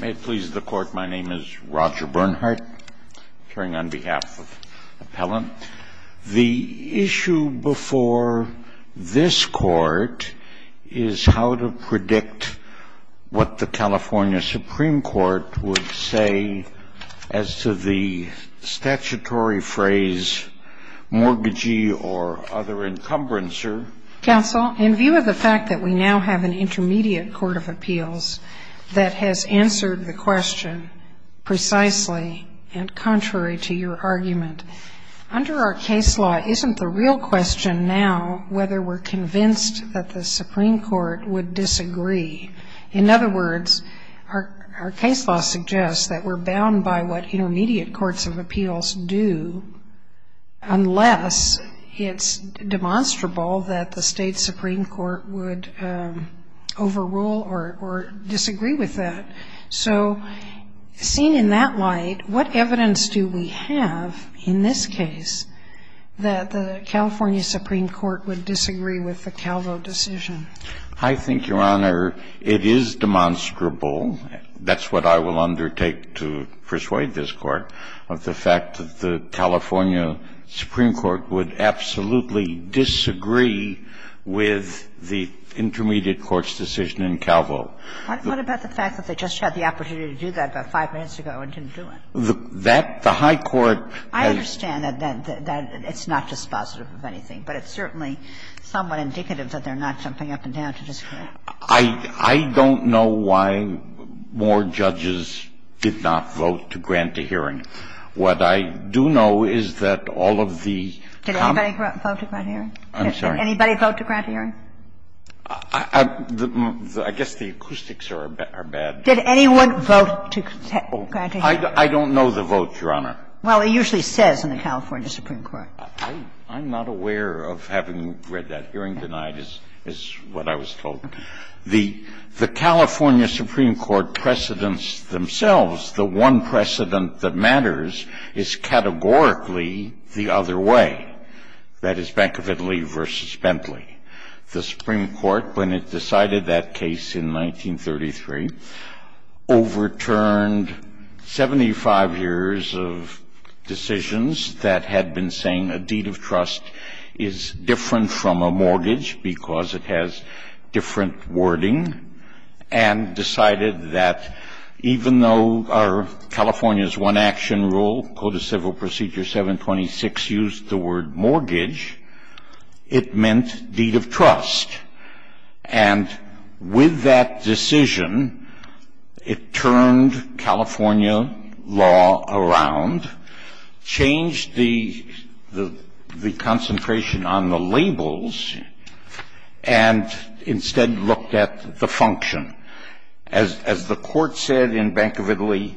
May it please the Court, my name is Roger Bernhardt, appearing on behalf of Appellant. The issue before this Court is how to predict what the California Supreme Court would say as to the statutory phrase mortgagee or other encumbrancer. Counsel, in view of the fact that we now have an Intermediate Court of Appeals that has answered the question precisely and contrary to your argument, under our case law isn't the real question now whether we're convinced that the Supreme Court would disagree. In other words, our case law suggests that we're bound by what Intermediate Courts of Appeals do unless it's demonstrable that the State Supreme Court would overrule or disagree with that. So seen in that light, what evidence do we have in this case that the California Supreme Court would disagree with the Calvo decision? I think, Your Honor, it is demonstrable. That's what I will undertake to persuade this Court of the fact that the California Supreme Court would absolutely disagree with the Intermediate Courts' decision in Calvo. What about the fact that they just had the opportunity to do that about five minutes ago and didn't do it? That the high court has ---- I understand that it's not dispositive of anything, but it's certainly somewhat indicative that they're not jumping up and down to disagree. I don't know why more judges did not vote to grant a hearing. What I do know is that all of the ---- Did anybody vote to grant a hearing? I'm sorry? Did anybody vote to grant a hearing? I guess the acoustics are bad. Did anyone vote to grant a hearing? I don't know the vote, Your Honor. Well, it usually says in the California Supreme Court. I'm not aware of having read that. Hearing denied is what I was told. The California Supreme Court precedents themselves. The one precedent that matters is categorically the other way, that is, Bank of Italy v. Bentley. The Supreme Court, when it decided that case in 1933, overturned 75 years of decisions that had been saying a deed of trust is different from a mortgage because it has different wording, and decided that even though our California's one-action rule, Code of Civil Procedure 726, used the word mortgage, it meant deed of trust. And with that decision, it turned California law around, changed the concentration on the labels, and instead looked at the function. As the court said in Bank of Italy,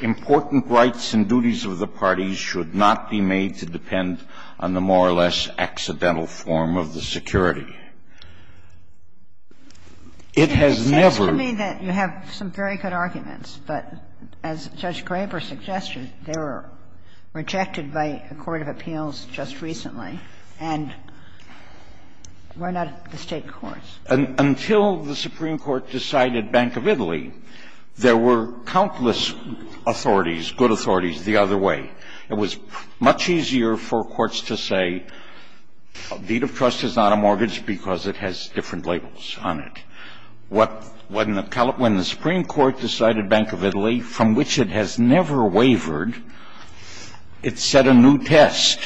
important rights and duties of the parties should not be made to depend on the more or less accidental form of the security. It has never been. It seems to me that you have some very good arguments, but as Judge Graber suggested, they were rejected by a court of appeals just recently and were not at the State courts. Until the Supreme Court decided Bank of Italy, there were countless authorities, good authorities, the other way. It was much easier for courts to say a deed of trust is not a mortgage because it has different labels on it. When the Supreme Court decided Bank of Italy, from which it has never wavered, it set a new test,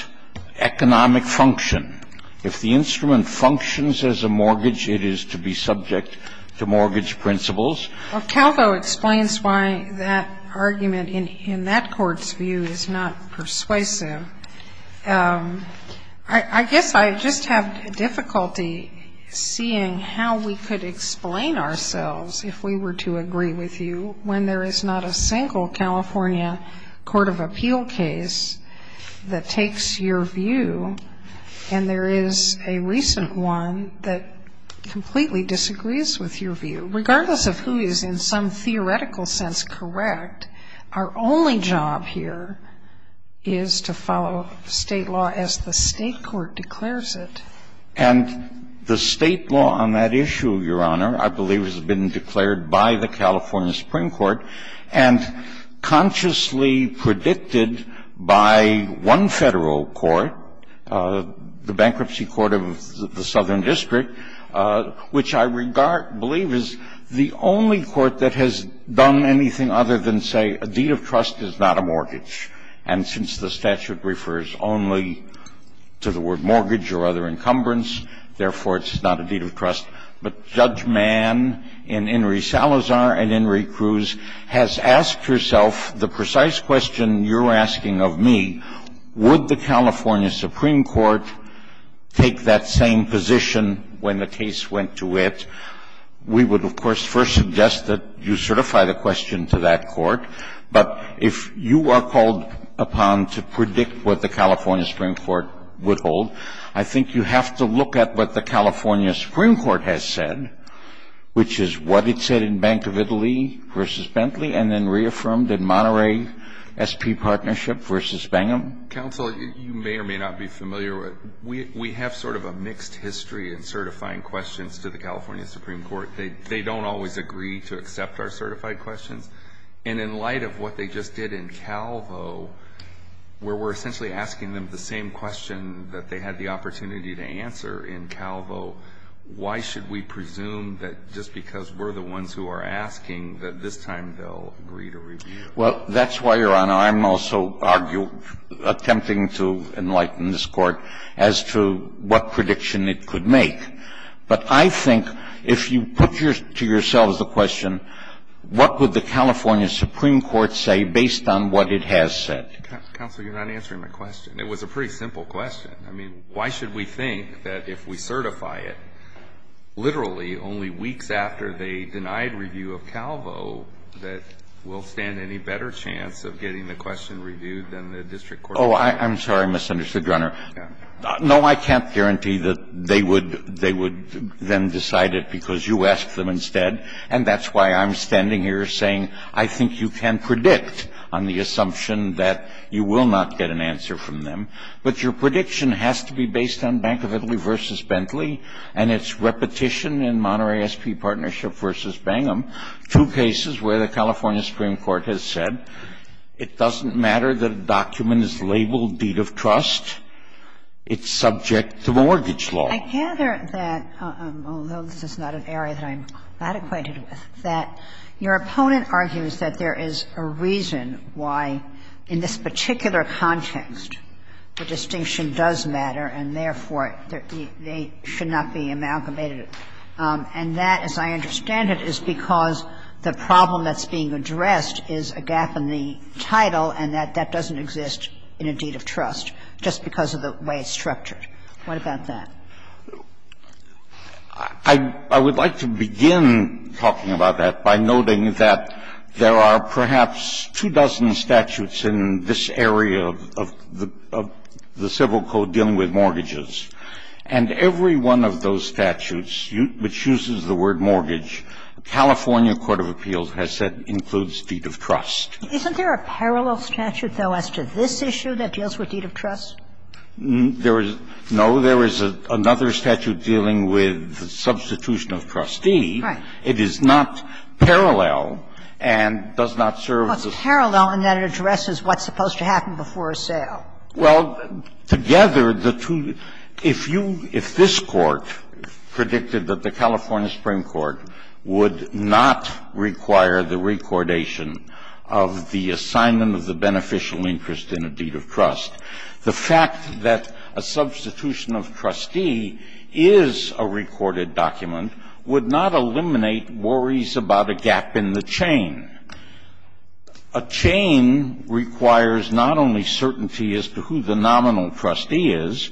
economic function. If the instrument functions as a mortgage, it is to be subject to mortgage principles. Calvo explains why that argument in that court's view is not persuasive. I guess I just have difficulty seeing how we could explain ourselves if we were to agree with you when there is not a single California court of appeal case that takes your view and there is a recent one that completely disagrees with your view, regardless of who is in some theoretical sense correct, our only job here is to follow State law as the State court declares it. And the State law on that issue, Your Honor, I believe has been declared by the California Supreme Court and consciously predicted by one Federal court, the Bankruptcy Court of the Southern District, which I believe is the only court that has done anything other than say a deed of trust is not a mortgage. And since the statute refers only to the word mortgage or other encumbrance, therefore it's not a deed of trust. But Judge Mann in Inri Salazar and Inri Cruz has asked herself the precise question you're asking of me, would the California Supreme Court take that same position when the case went to it? We would, of course, first suggest that you certify the question to that court. But if you are called upon to predict what the California Supreme Court would hold, I think you have to look at what the California Supreme Court has said, which is what it said in Bank of Italy v. Bentley and then reaffirmed in Monterey SP Partnership v. Bingham. Counsel, you may or may not be familiar with, we have sort of a mixed history in certifying questions to the California Supreme Court. They don't always agree to accept our certified questions. And in light of what they just did in Calvo, where we're essentially asking them the same question that they had the opportunity to answer in Calvo, why should we presume that just because we're the ones who are asking that this time they'll agree to review? Well, that's why, Your Honor, I'm also attempting to enlighten this Court as to what prediction it could make. But I think if you put to yourselves the question, what would the California Supreme Court say based on what it has said? Counsel, you're not answering my question. It was a pretty simple question. I mean, why should we think that if we certify it, literally only weeks after they denied review of Calvo, that we'll stand any better chance of getting the question reviewed than the district court? Oh, I'm sorry, Mr. Understood, Your Honor. No, I can't guarantee that they would then decide it because you asked them instead. And that's why I'm standing here saying I think you can predict on the assumption that you will not get an answer from them. But your prediction has to be based on Bank of Italy v. Bentley and its repetition in Monterey S.P. Partnership v. Bangham, two cases where the California Supreme Court has said it doesn't matter that a document is labeled deed of trust, it's subject to mortgage law. I gather that, although this is not an area that I'm that acquainted with, that your distinction does matter and, therefore, they should not be amalgamated. And that, as I understand it, is because the problem that's being addressed is a gap in the title and that that doesn't exist in a deed of trust just because of the way it's structured. What about that? I would like to begin talking about that by noting that there are perhaps two dozen statutes in this area of the Civil Code dealing with mortgages. And every one of those statutes, which uses the word mortgage, California court of appeals has said includes deed of trust. Isn't there a parallel statute, though, as to this issue that deals with deed of trust? There is no. There is another statute dealing with substitution of trustee. It is not parallel and does not serve the same purpose. And what's parallel in that it addresses what's supposed to happen before a sale? Well, together, the two — if you — if this Court predicted that the California Supreme Court would not require the recordation of the assignment of the beneficial interest in a deed of trust, the fact that a substitution of trustee is a recorded document would not eliminate worries about a gap in the chain. A chain requires not only certainty as to who the nominal trustee is,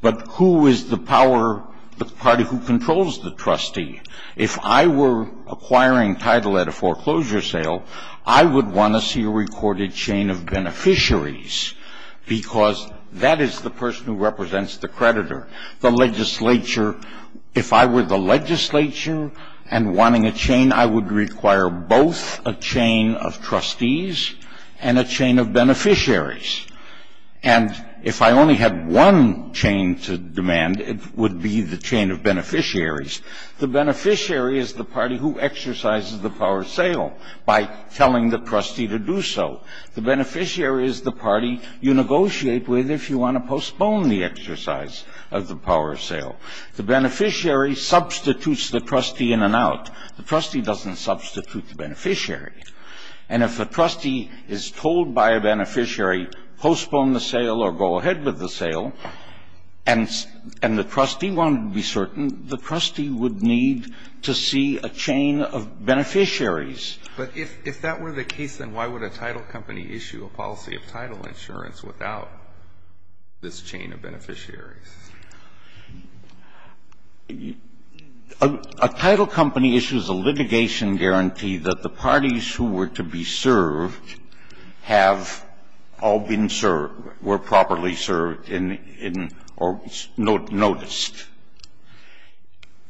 but who is the power — the party who controls the trustee. If I were acquiring title at a foreclosure sale, I would want to see a recorded chain of beneficiaries because that is the person who represents the creditor. The legislature — if I were the legislature and wanting a chain, I would require both a chain of trustees and a chain of beneficiaries. And if I only had one chain to demand, it would be the chain of beneficiaries. The beneficiary is the party who exercises the power of sale by telling the trustee to do so. The beneficiary is the party you negotiate with if you want to postpone the exercise of the power of sale. The beneficiary substitutes the trustee in and out. The trustee doesn't substitute the beneficiary. And if a trustee is told by a beneficiary, postpone the sale or go ahead with the sale, and the trustee wanted to be certain, the trustee would need to see a chain of beneficiaries. But if that were the case, then why would a title company issue a policy of title insurance without this chain of beneficiaries? A title company issues a litigation guarantee that the parties who were to be served have all been served, were properly served in — or noticed.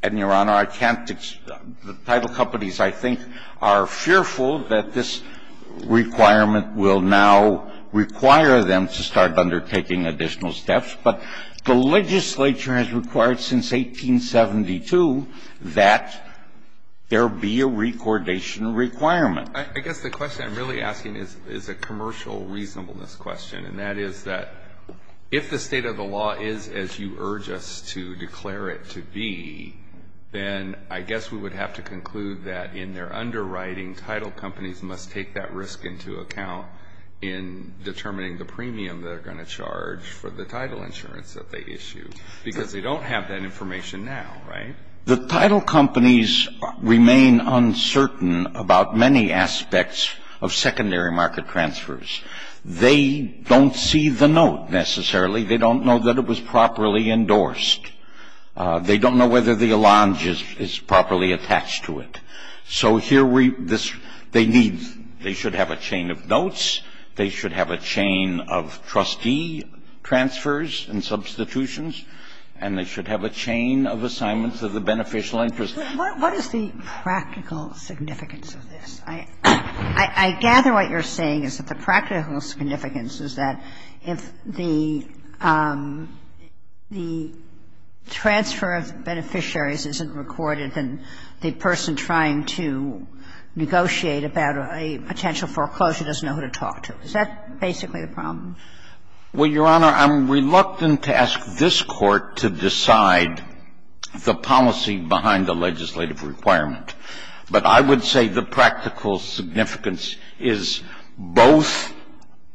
And, Your Honor, I can't — the title companies, I think, are fearful that this requirement will now require them to start undertaking additional steps. But the legislature has required since 1872 that there be a recordation requirement. I guess the question I'm really asking is a commercial reasonableness question. And that is that if the state of the law is as you urge us to declare it to be, then I guess we would have to conclude that in their underwriting, title companies must take that charge for the title insurance that they issue. Because they don't have that information now, right? The title companies remain uncertain about many aspects of secondary market transfers. They don't see the note, necessarily. They don't know that it was properly endorsed. They don't know whether the allonge is properly attached to it. So here we — this — they need — they should have a chain of notes. They should have a chain of trustee transfers and substitutions. And they should have a chain of assignments of the beneficial interest. Kagan. What is the practical significance of this? I gather what you're saying is that the practical significance is that if the transfer of beneficiaries isn't recorded, then the person trying to negotiate about a potential foreclosure doesn't know who to talk to. Is that basically the problem? Well, Your Honor, I'm reluctant to ask this Court to decide the policy behind a legislative requirement. But I would say the practical significance is both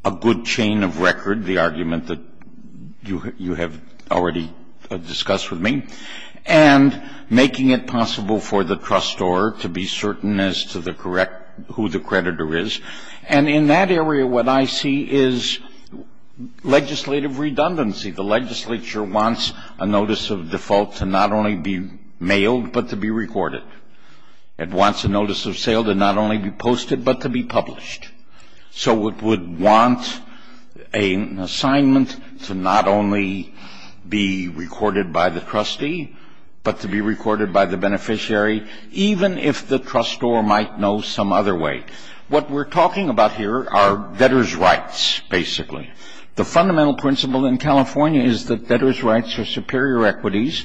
a good chain of record, the argument that you have already discussed with me, and making it possible for the trustor to be certain as to the correct — who the creditor is. And in that area, what I see is legislative redundancy. The legislature wants a notice of default to not only be mailed, but to be recorded. It wants a notice of sale to not only be posted, but to be published. So it would want an assignment to not only be recorded by the trustee, but to be recorded by the beneficiary, even if the trustor might know some other way. What we're talking about here are debtor's rights, basically. The fundamental principle in California is that debtor's rights are superior equities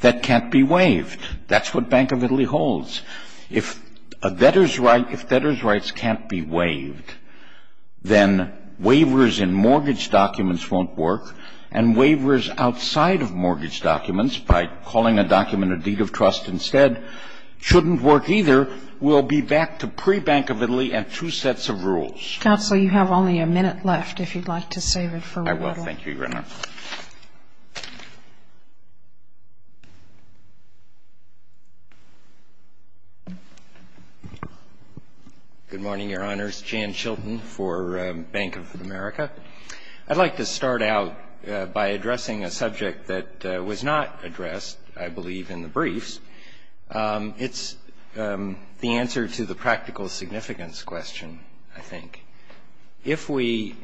that can't be waived. That's what Bank of Italy holds. If a debtor's rights — if debtor's rights can't be waived, then waivers in mortgage documents won't work. And waivers outside of mortgage documents, by calling a document a deed of trust instead, shouldn't work either. We'll be back to pre-Bank of Italy and two sets of rules. Counsel, you have only a minute left, if you'd like to save it for later. I will. Thank you, Your Honor. Good morning, Your Honors. Jan Chilton for Bank of America. I'd like to start out by addressing a subject that was not addressed, I believe, in the briefs. It's the answer to the practical significance question, I think. If we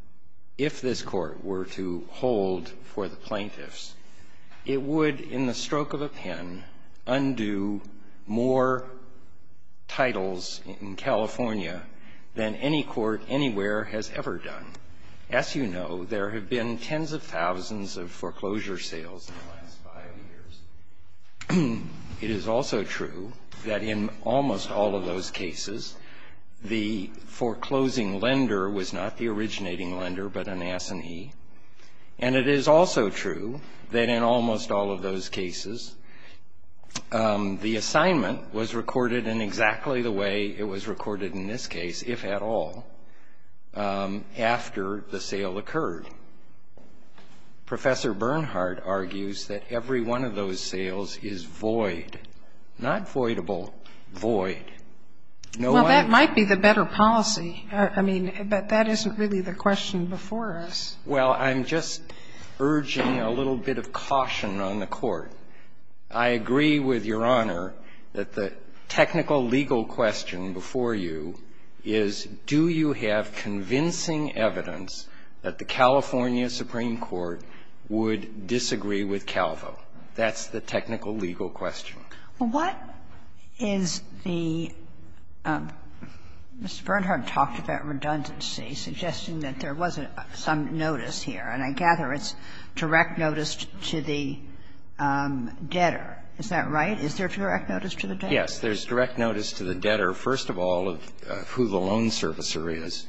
— if this Court were to hold for the plaintiffs, it would, in the stroke of a pen, undo more titles in California than any court anywhere has ever done. As you know, there have been tens of thousands of foreclosure sales in the last five years. It is also true that in almost all of those cases, the foreclosing lender was not the originating lender, but an assinee. And it is also true that in almost all of those cases, the assignment was recorded in exactly the way it was recorded in this case, if at all, after the sale occurred. Professor Bernhard argues that every one of those sales is void, not voidable, void. No one — Well, that might be the better policy. I mean, but that isn't really the question before us. Well, I'm just urging a little bit of caution on the Court. I agree with Your Honor that the technical legal question before you is, do you have convincing evidence that the California Supreme Court would disagree with Calvo? That's the technical legal question. Well, what is the — Mr. Bernhard talked about redundancy, suggesting that there was some notice here, and I gather it's direct notice to the debtor. Is that right? Is there direct notice to the debtor? Yes. There's direct notice to the debtor, first of all, of who the loan servicer is.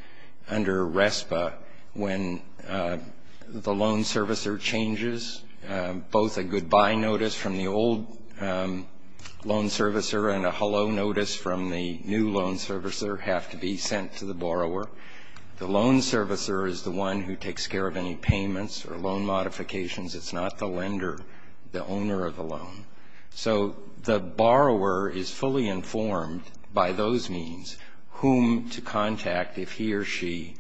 Under RESPA, when the loan servicer changes, both a goodbye notice from the old loan servicer and a hello notice from the new loan servicer have to be sent to the borrower. The loan servicer is the one who takes care of any payments or loan modifications. It's not the lender, the owner of the loan. So the borrower is fully informed by those means whom to contact if he or she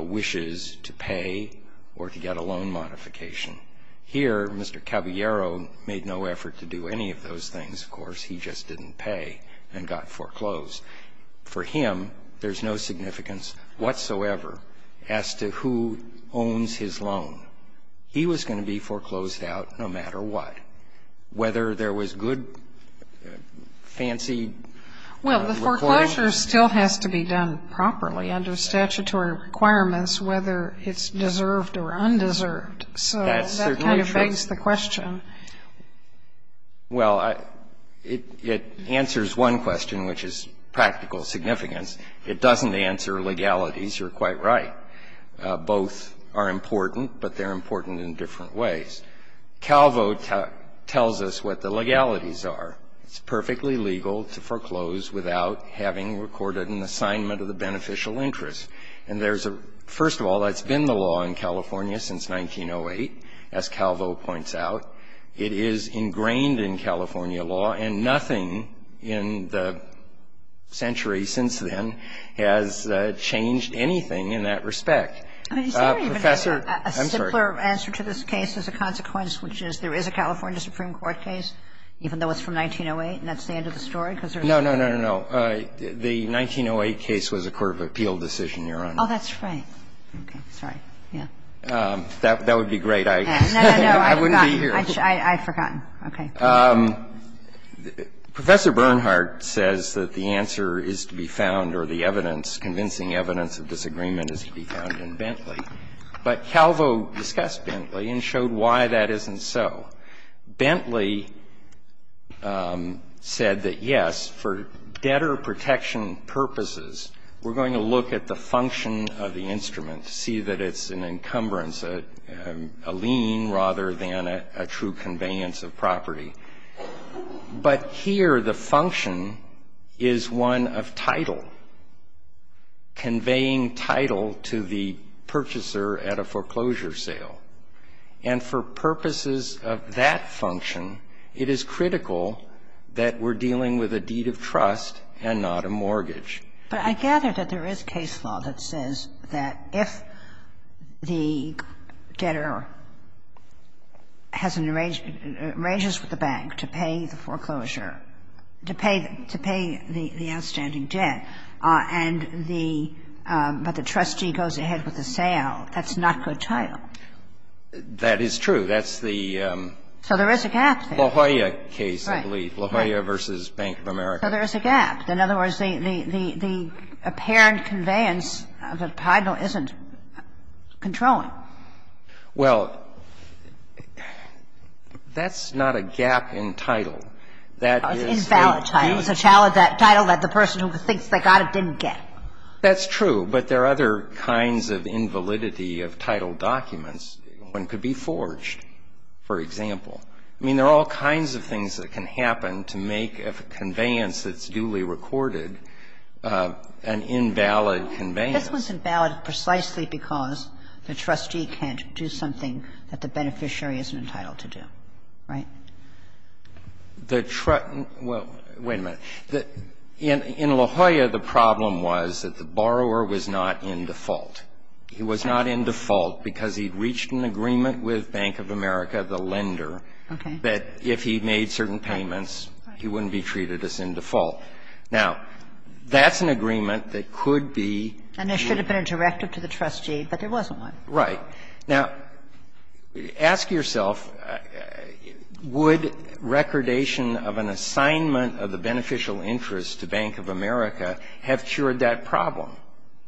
wishes to pay or to get a loan modification. Here, Mr. Caballero made no effort to do any of those things. Of course, he just didn't pay and got foreclosed. For him, there's no significance whatsoever as to who owns his loan. He was going to be foreclosed out no matter what, whether there was good, fancy — Well, the foreclosure still has to be done properly under statutory requirements, whether it's deserved or undeserved. So that kind of begs the question. Well, it answers one question, which is practical significance. It doesn't answer legalities. You're quite right. Both are important, but they're important in different ways. Calvo tells us what the legalities are. It's perfectly legal to foreclose without having recorded an assignment of the beneficial interest. And there's a — first of all, that's been the law in California since 1908, as Calvo points out. It is ingrained in California law, and nothing in the century since then has changed anything in that respect. Professor — I'm sorry. A simpler answer to this case is a consequence, which is there is a California Supreme Court case, even though it's from 1908, and that's the end of the story? Because there's — No, no, no, no, no. The 1908 case was a court of appeal decision, Your Honor. Oh, that's right. Okay. Sorry. Yeah. That would be great. I — No, no, no. I would be here. I've forgotten. Okay. Professor Bernhardt says that the answer is to be found, or the evidence, convincing evidence of disagreement is to be found in Bentley. But Calvo discussed Bentley and showed why that isn't so. Bentley said that, yes, for debtor protection purposes, we're going to look at the function of the instrument, see that it's an encumbrance, a lien rather than a true conveyance of property. But here the function is one of title, conveying title to the purchaser at a foreclosure sale. And for purposes of that function, it is critical that we're dealing with a deed of trust and not a mortgage. But I gather that there is case law that says that if the debtor has an arrangement — arranges with the bank to pay the foreclosure, to pay the outstanding debt, and the — but the trustee goes ahead with the sale, that's not good title. That is true. That's the — So there is a gap there. La Jolla case, I believe. Right. La Jolla v. Bank of America. So there is a gap. In other words, the — the apparent conveyance of the title isn't controlling. Well, that's not a gap in title. That is a — Invalid title. It's a title that the person who thinks they got it didn't get. That's true. But there are other kinds of invalidity of title documents. One could be forged, for example. I mean, there are all kinds of things that can happen to make a conveyance that's not necessarily recorded an invalid conveyance. This one's invalid precisely because the trustee can't do something that the beneficiary isn't entitled to do, right? The — well, wait a minute. In La Jolla, the problem was that the borrower was not in default. He was not in default because he'd reached an agreement with Bank of America, the lender, that if he made certain payments, he wouldn't be treated as in default. Now, that's an agreement that could be — And there should have been a directive to the trustee, but there wasn't one. Right. Now, ask yourself, would recordation of an assignment of the beneficial interest to Bank of America have cured that problem?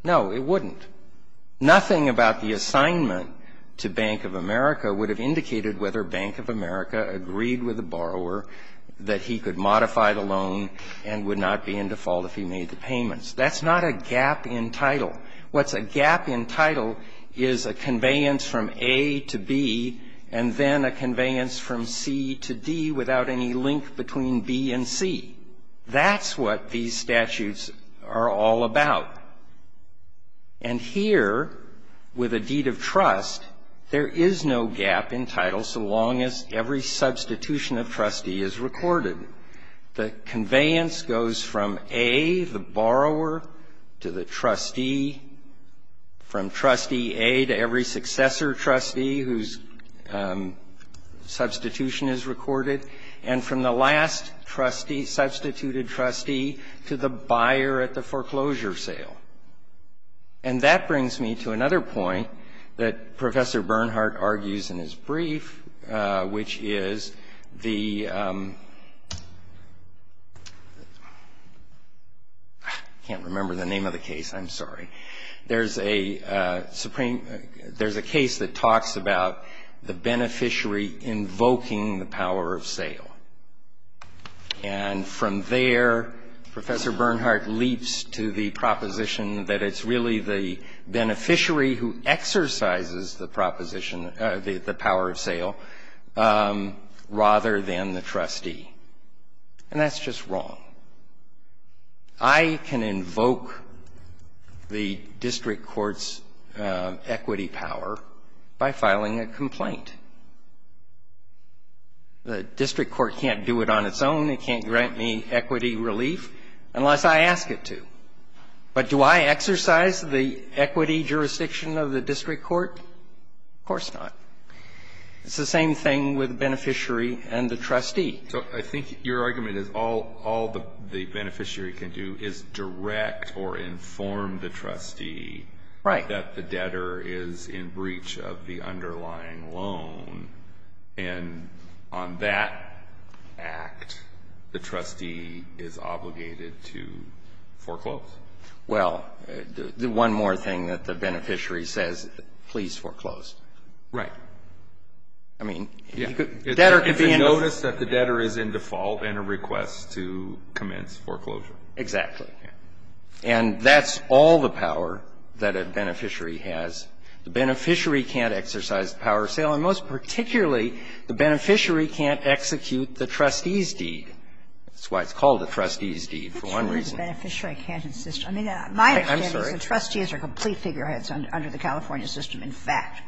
No, it wouldn't. Nothing about the assignment to Bank of America would have indicated whether Bank of America agreed with the borrower that he could modify the loan and would not be in default if he made the payments. That's not a gap in title. What's a gap in title is a conveyance from A to B and then a conveyance from C to D without any link between B and C. That's what these statutes are all about. And here, with a deed of trust, there is no gap in title so long as every substitution of trustee is recorded. The conveyance goes from A, the borrower, to the trustee, from trustee A to every successor trustee whose substitution is recorded, and from the last trustee, substituted trustee, to the buyer at the foreclosure sale. And that brings me to another point that Professor Bernhardt argues in his brief, which is the... I can't remember the name of the case. I'm sorry. There's a Supreme... There's a case that talks about the beneficiary invoking the power of sale. And from there, Professor Bernhardt leaps to the proposition that it's really the beneficiary who exercises the proposition, the power of sale, rather than the trustee. And that's just wrong. I can invoke the district court's equity power by filing a complaint. The district court can't do it on its own. It can't grant me equity relief unless I ask it to. But do I exercise the equity jurisdiction of the district court? Of course not. It's the same thing with the beneficiary and the trustee. So I think your argument is all the beneficiary can do is direct or inform the trustee that the debtor is in breach of the underlying loan. And on that act, the trustee is obligated to foreclose. Well, the one more thing that the beneficiary says, please foreclose. Right. I mean, debtor can be in... If you notice that the debtor is in default and requests to commence foreclosure. Exactly. And that's all the power that a beneficiary has. The beneficiary can't exercise the power of sale. And most particularly, the beneficiary can't execute the trustee's deed. That's why it's called the trustee's deed, for one reason. I'm not sure the beneficiary can't insist. I mean, my understanding is the trustees are complete figureheads under the California system, in fact.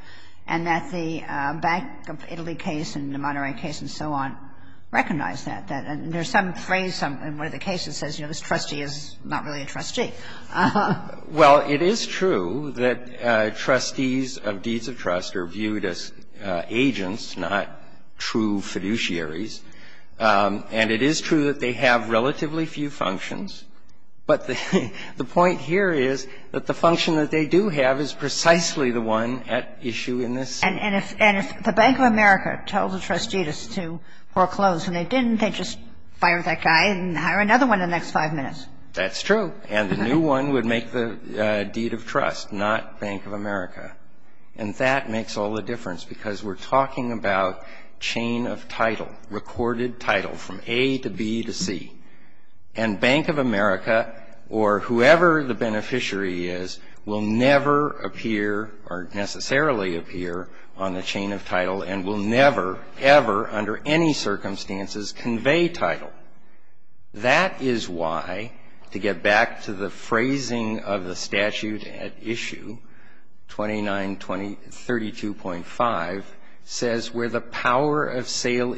And that the Bank of Italy case and the Monterey case and so on recognize that. And there's some phrase in one of the cases that says, you know, this trustee is not really a trustee. Well, it is true that trustees of deeds of trust are viewed as agents, not true fiduciaries. And it is true that they have relatively few functions. But the point here is that the function that they do have is precisely the one at issue in this case. And if the Bank of America tells a trustee to foreclose and they didn't, they just fire that guy and hire another one in the next five minutes. That's true. And the new one would make the deed of trust, not Bank of America. And that makes all the difference because we're talking about chain of title, recorded title from A to B to C. And Bank of America or whoever the beneficiary is will never appear or necessarily appear on the chain of title and will never, ever under any circumstances convey title. That is why, to get back to the phrasing of the statute at issue 2932.5 says, where the The power of sale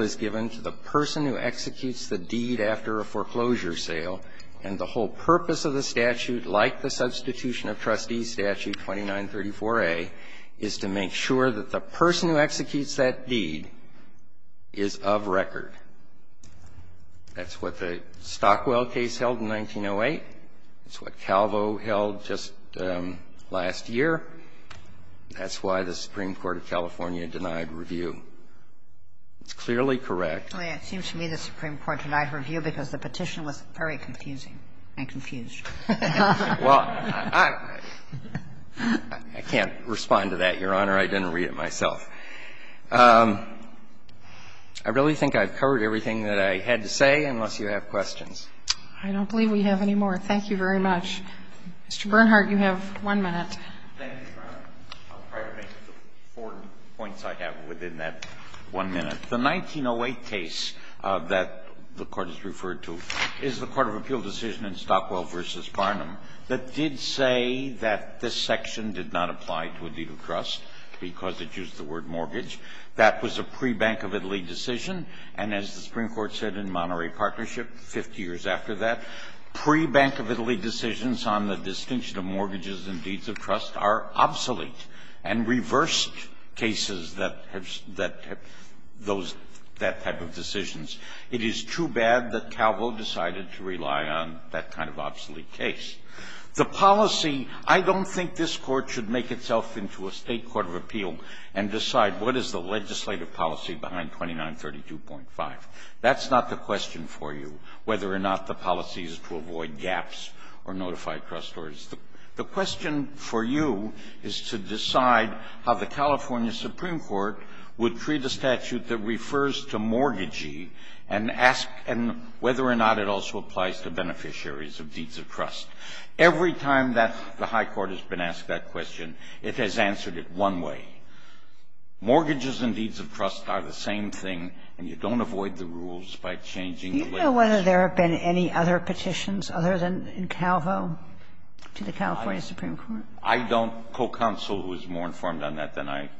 is given to the person who executes the deed after a foreclosure sale. And the whole purpose of the statute, like the substitution of trustees statute 2934A, is to make sure that the person who executes that deed is of record. That's what the Stockwell case held in 1908. That's what Calvo held just last year. That's why the Supreme Court of California denied review. It's clearly correct. It seems to me the Supreme Court denied review because the petition was very confusing and confused. Well, I can't respond to that, Your Honor. I didn't read it myself. I really think I've covered everything that I had to say, unless you have questions. I don't believe we have any more. Thank you very much. Mr. Bernhardt, you have one minute. Thank you, Your Honor. I'll try to make the four points I have within that one minute. The 1908 case that the Court has referred to is the Court of Appeal decision in Stockwell v. Barnum that did say that this section did not apply to a deed of trust because it used the word mortgage. That was a pre-Bank of Italy decision. And as the Supreme Court said in Monterey Partnership 50 years after that, pre-Bank of Italy decisions on the distinction of mortgages and deeds of trust are obsolete and reversed cases that have those type of decisions. It is too bad that Calvo decided to rely on that kind of obsolete case. The policy, I don't think this Court should make itself into a State Court of Appeal and decide what is the legislative policy behind 2932.5. That's not the question for you, whether or not the policy is to avoid gaps or notify trustors. The question for you is to decide how the California Supreme Court would treat a statute that refers to mortgagee and ask whether or not it also applies to beneficiaries of deeds of trust. Every time that the high court has been asked that question, it has answered it one way. Mortgages and deeds of trust are the same thing, and you don't avoid the rules by changing the legislation. Do you know whether there have been any other petitions other than in Calvo to the California Supreme Court? I don't. Co-counsel was more informed on that than I.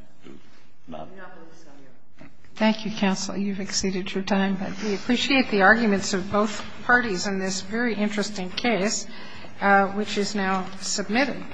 Thank you, counsel. You've exceeded your time, but we appreciate the arguments of both parties in this very interesting case, which is now submitted.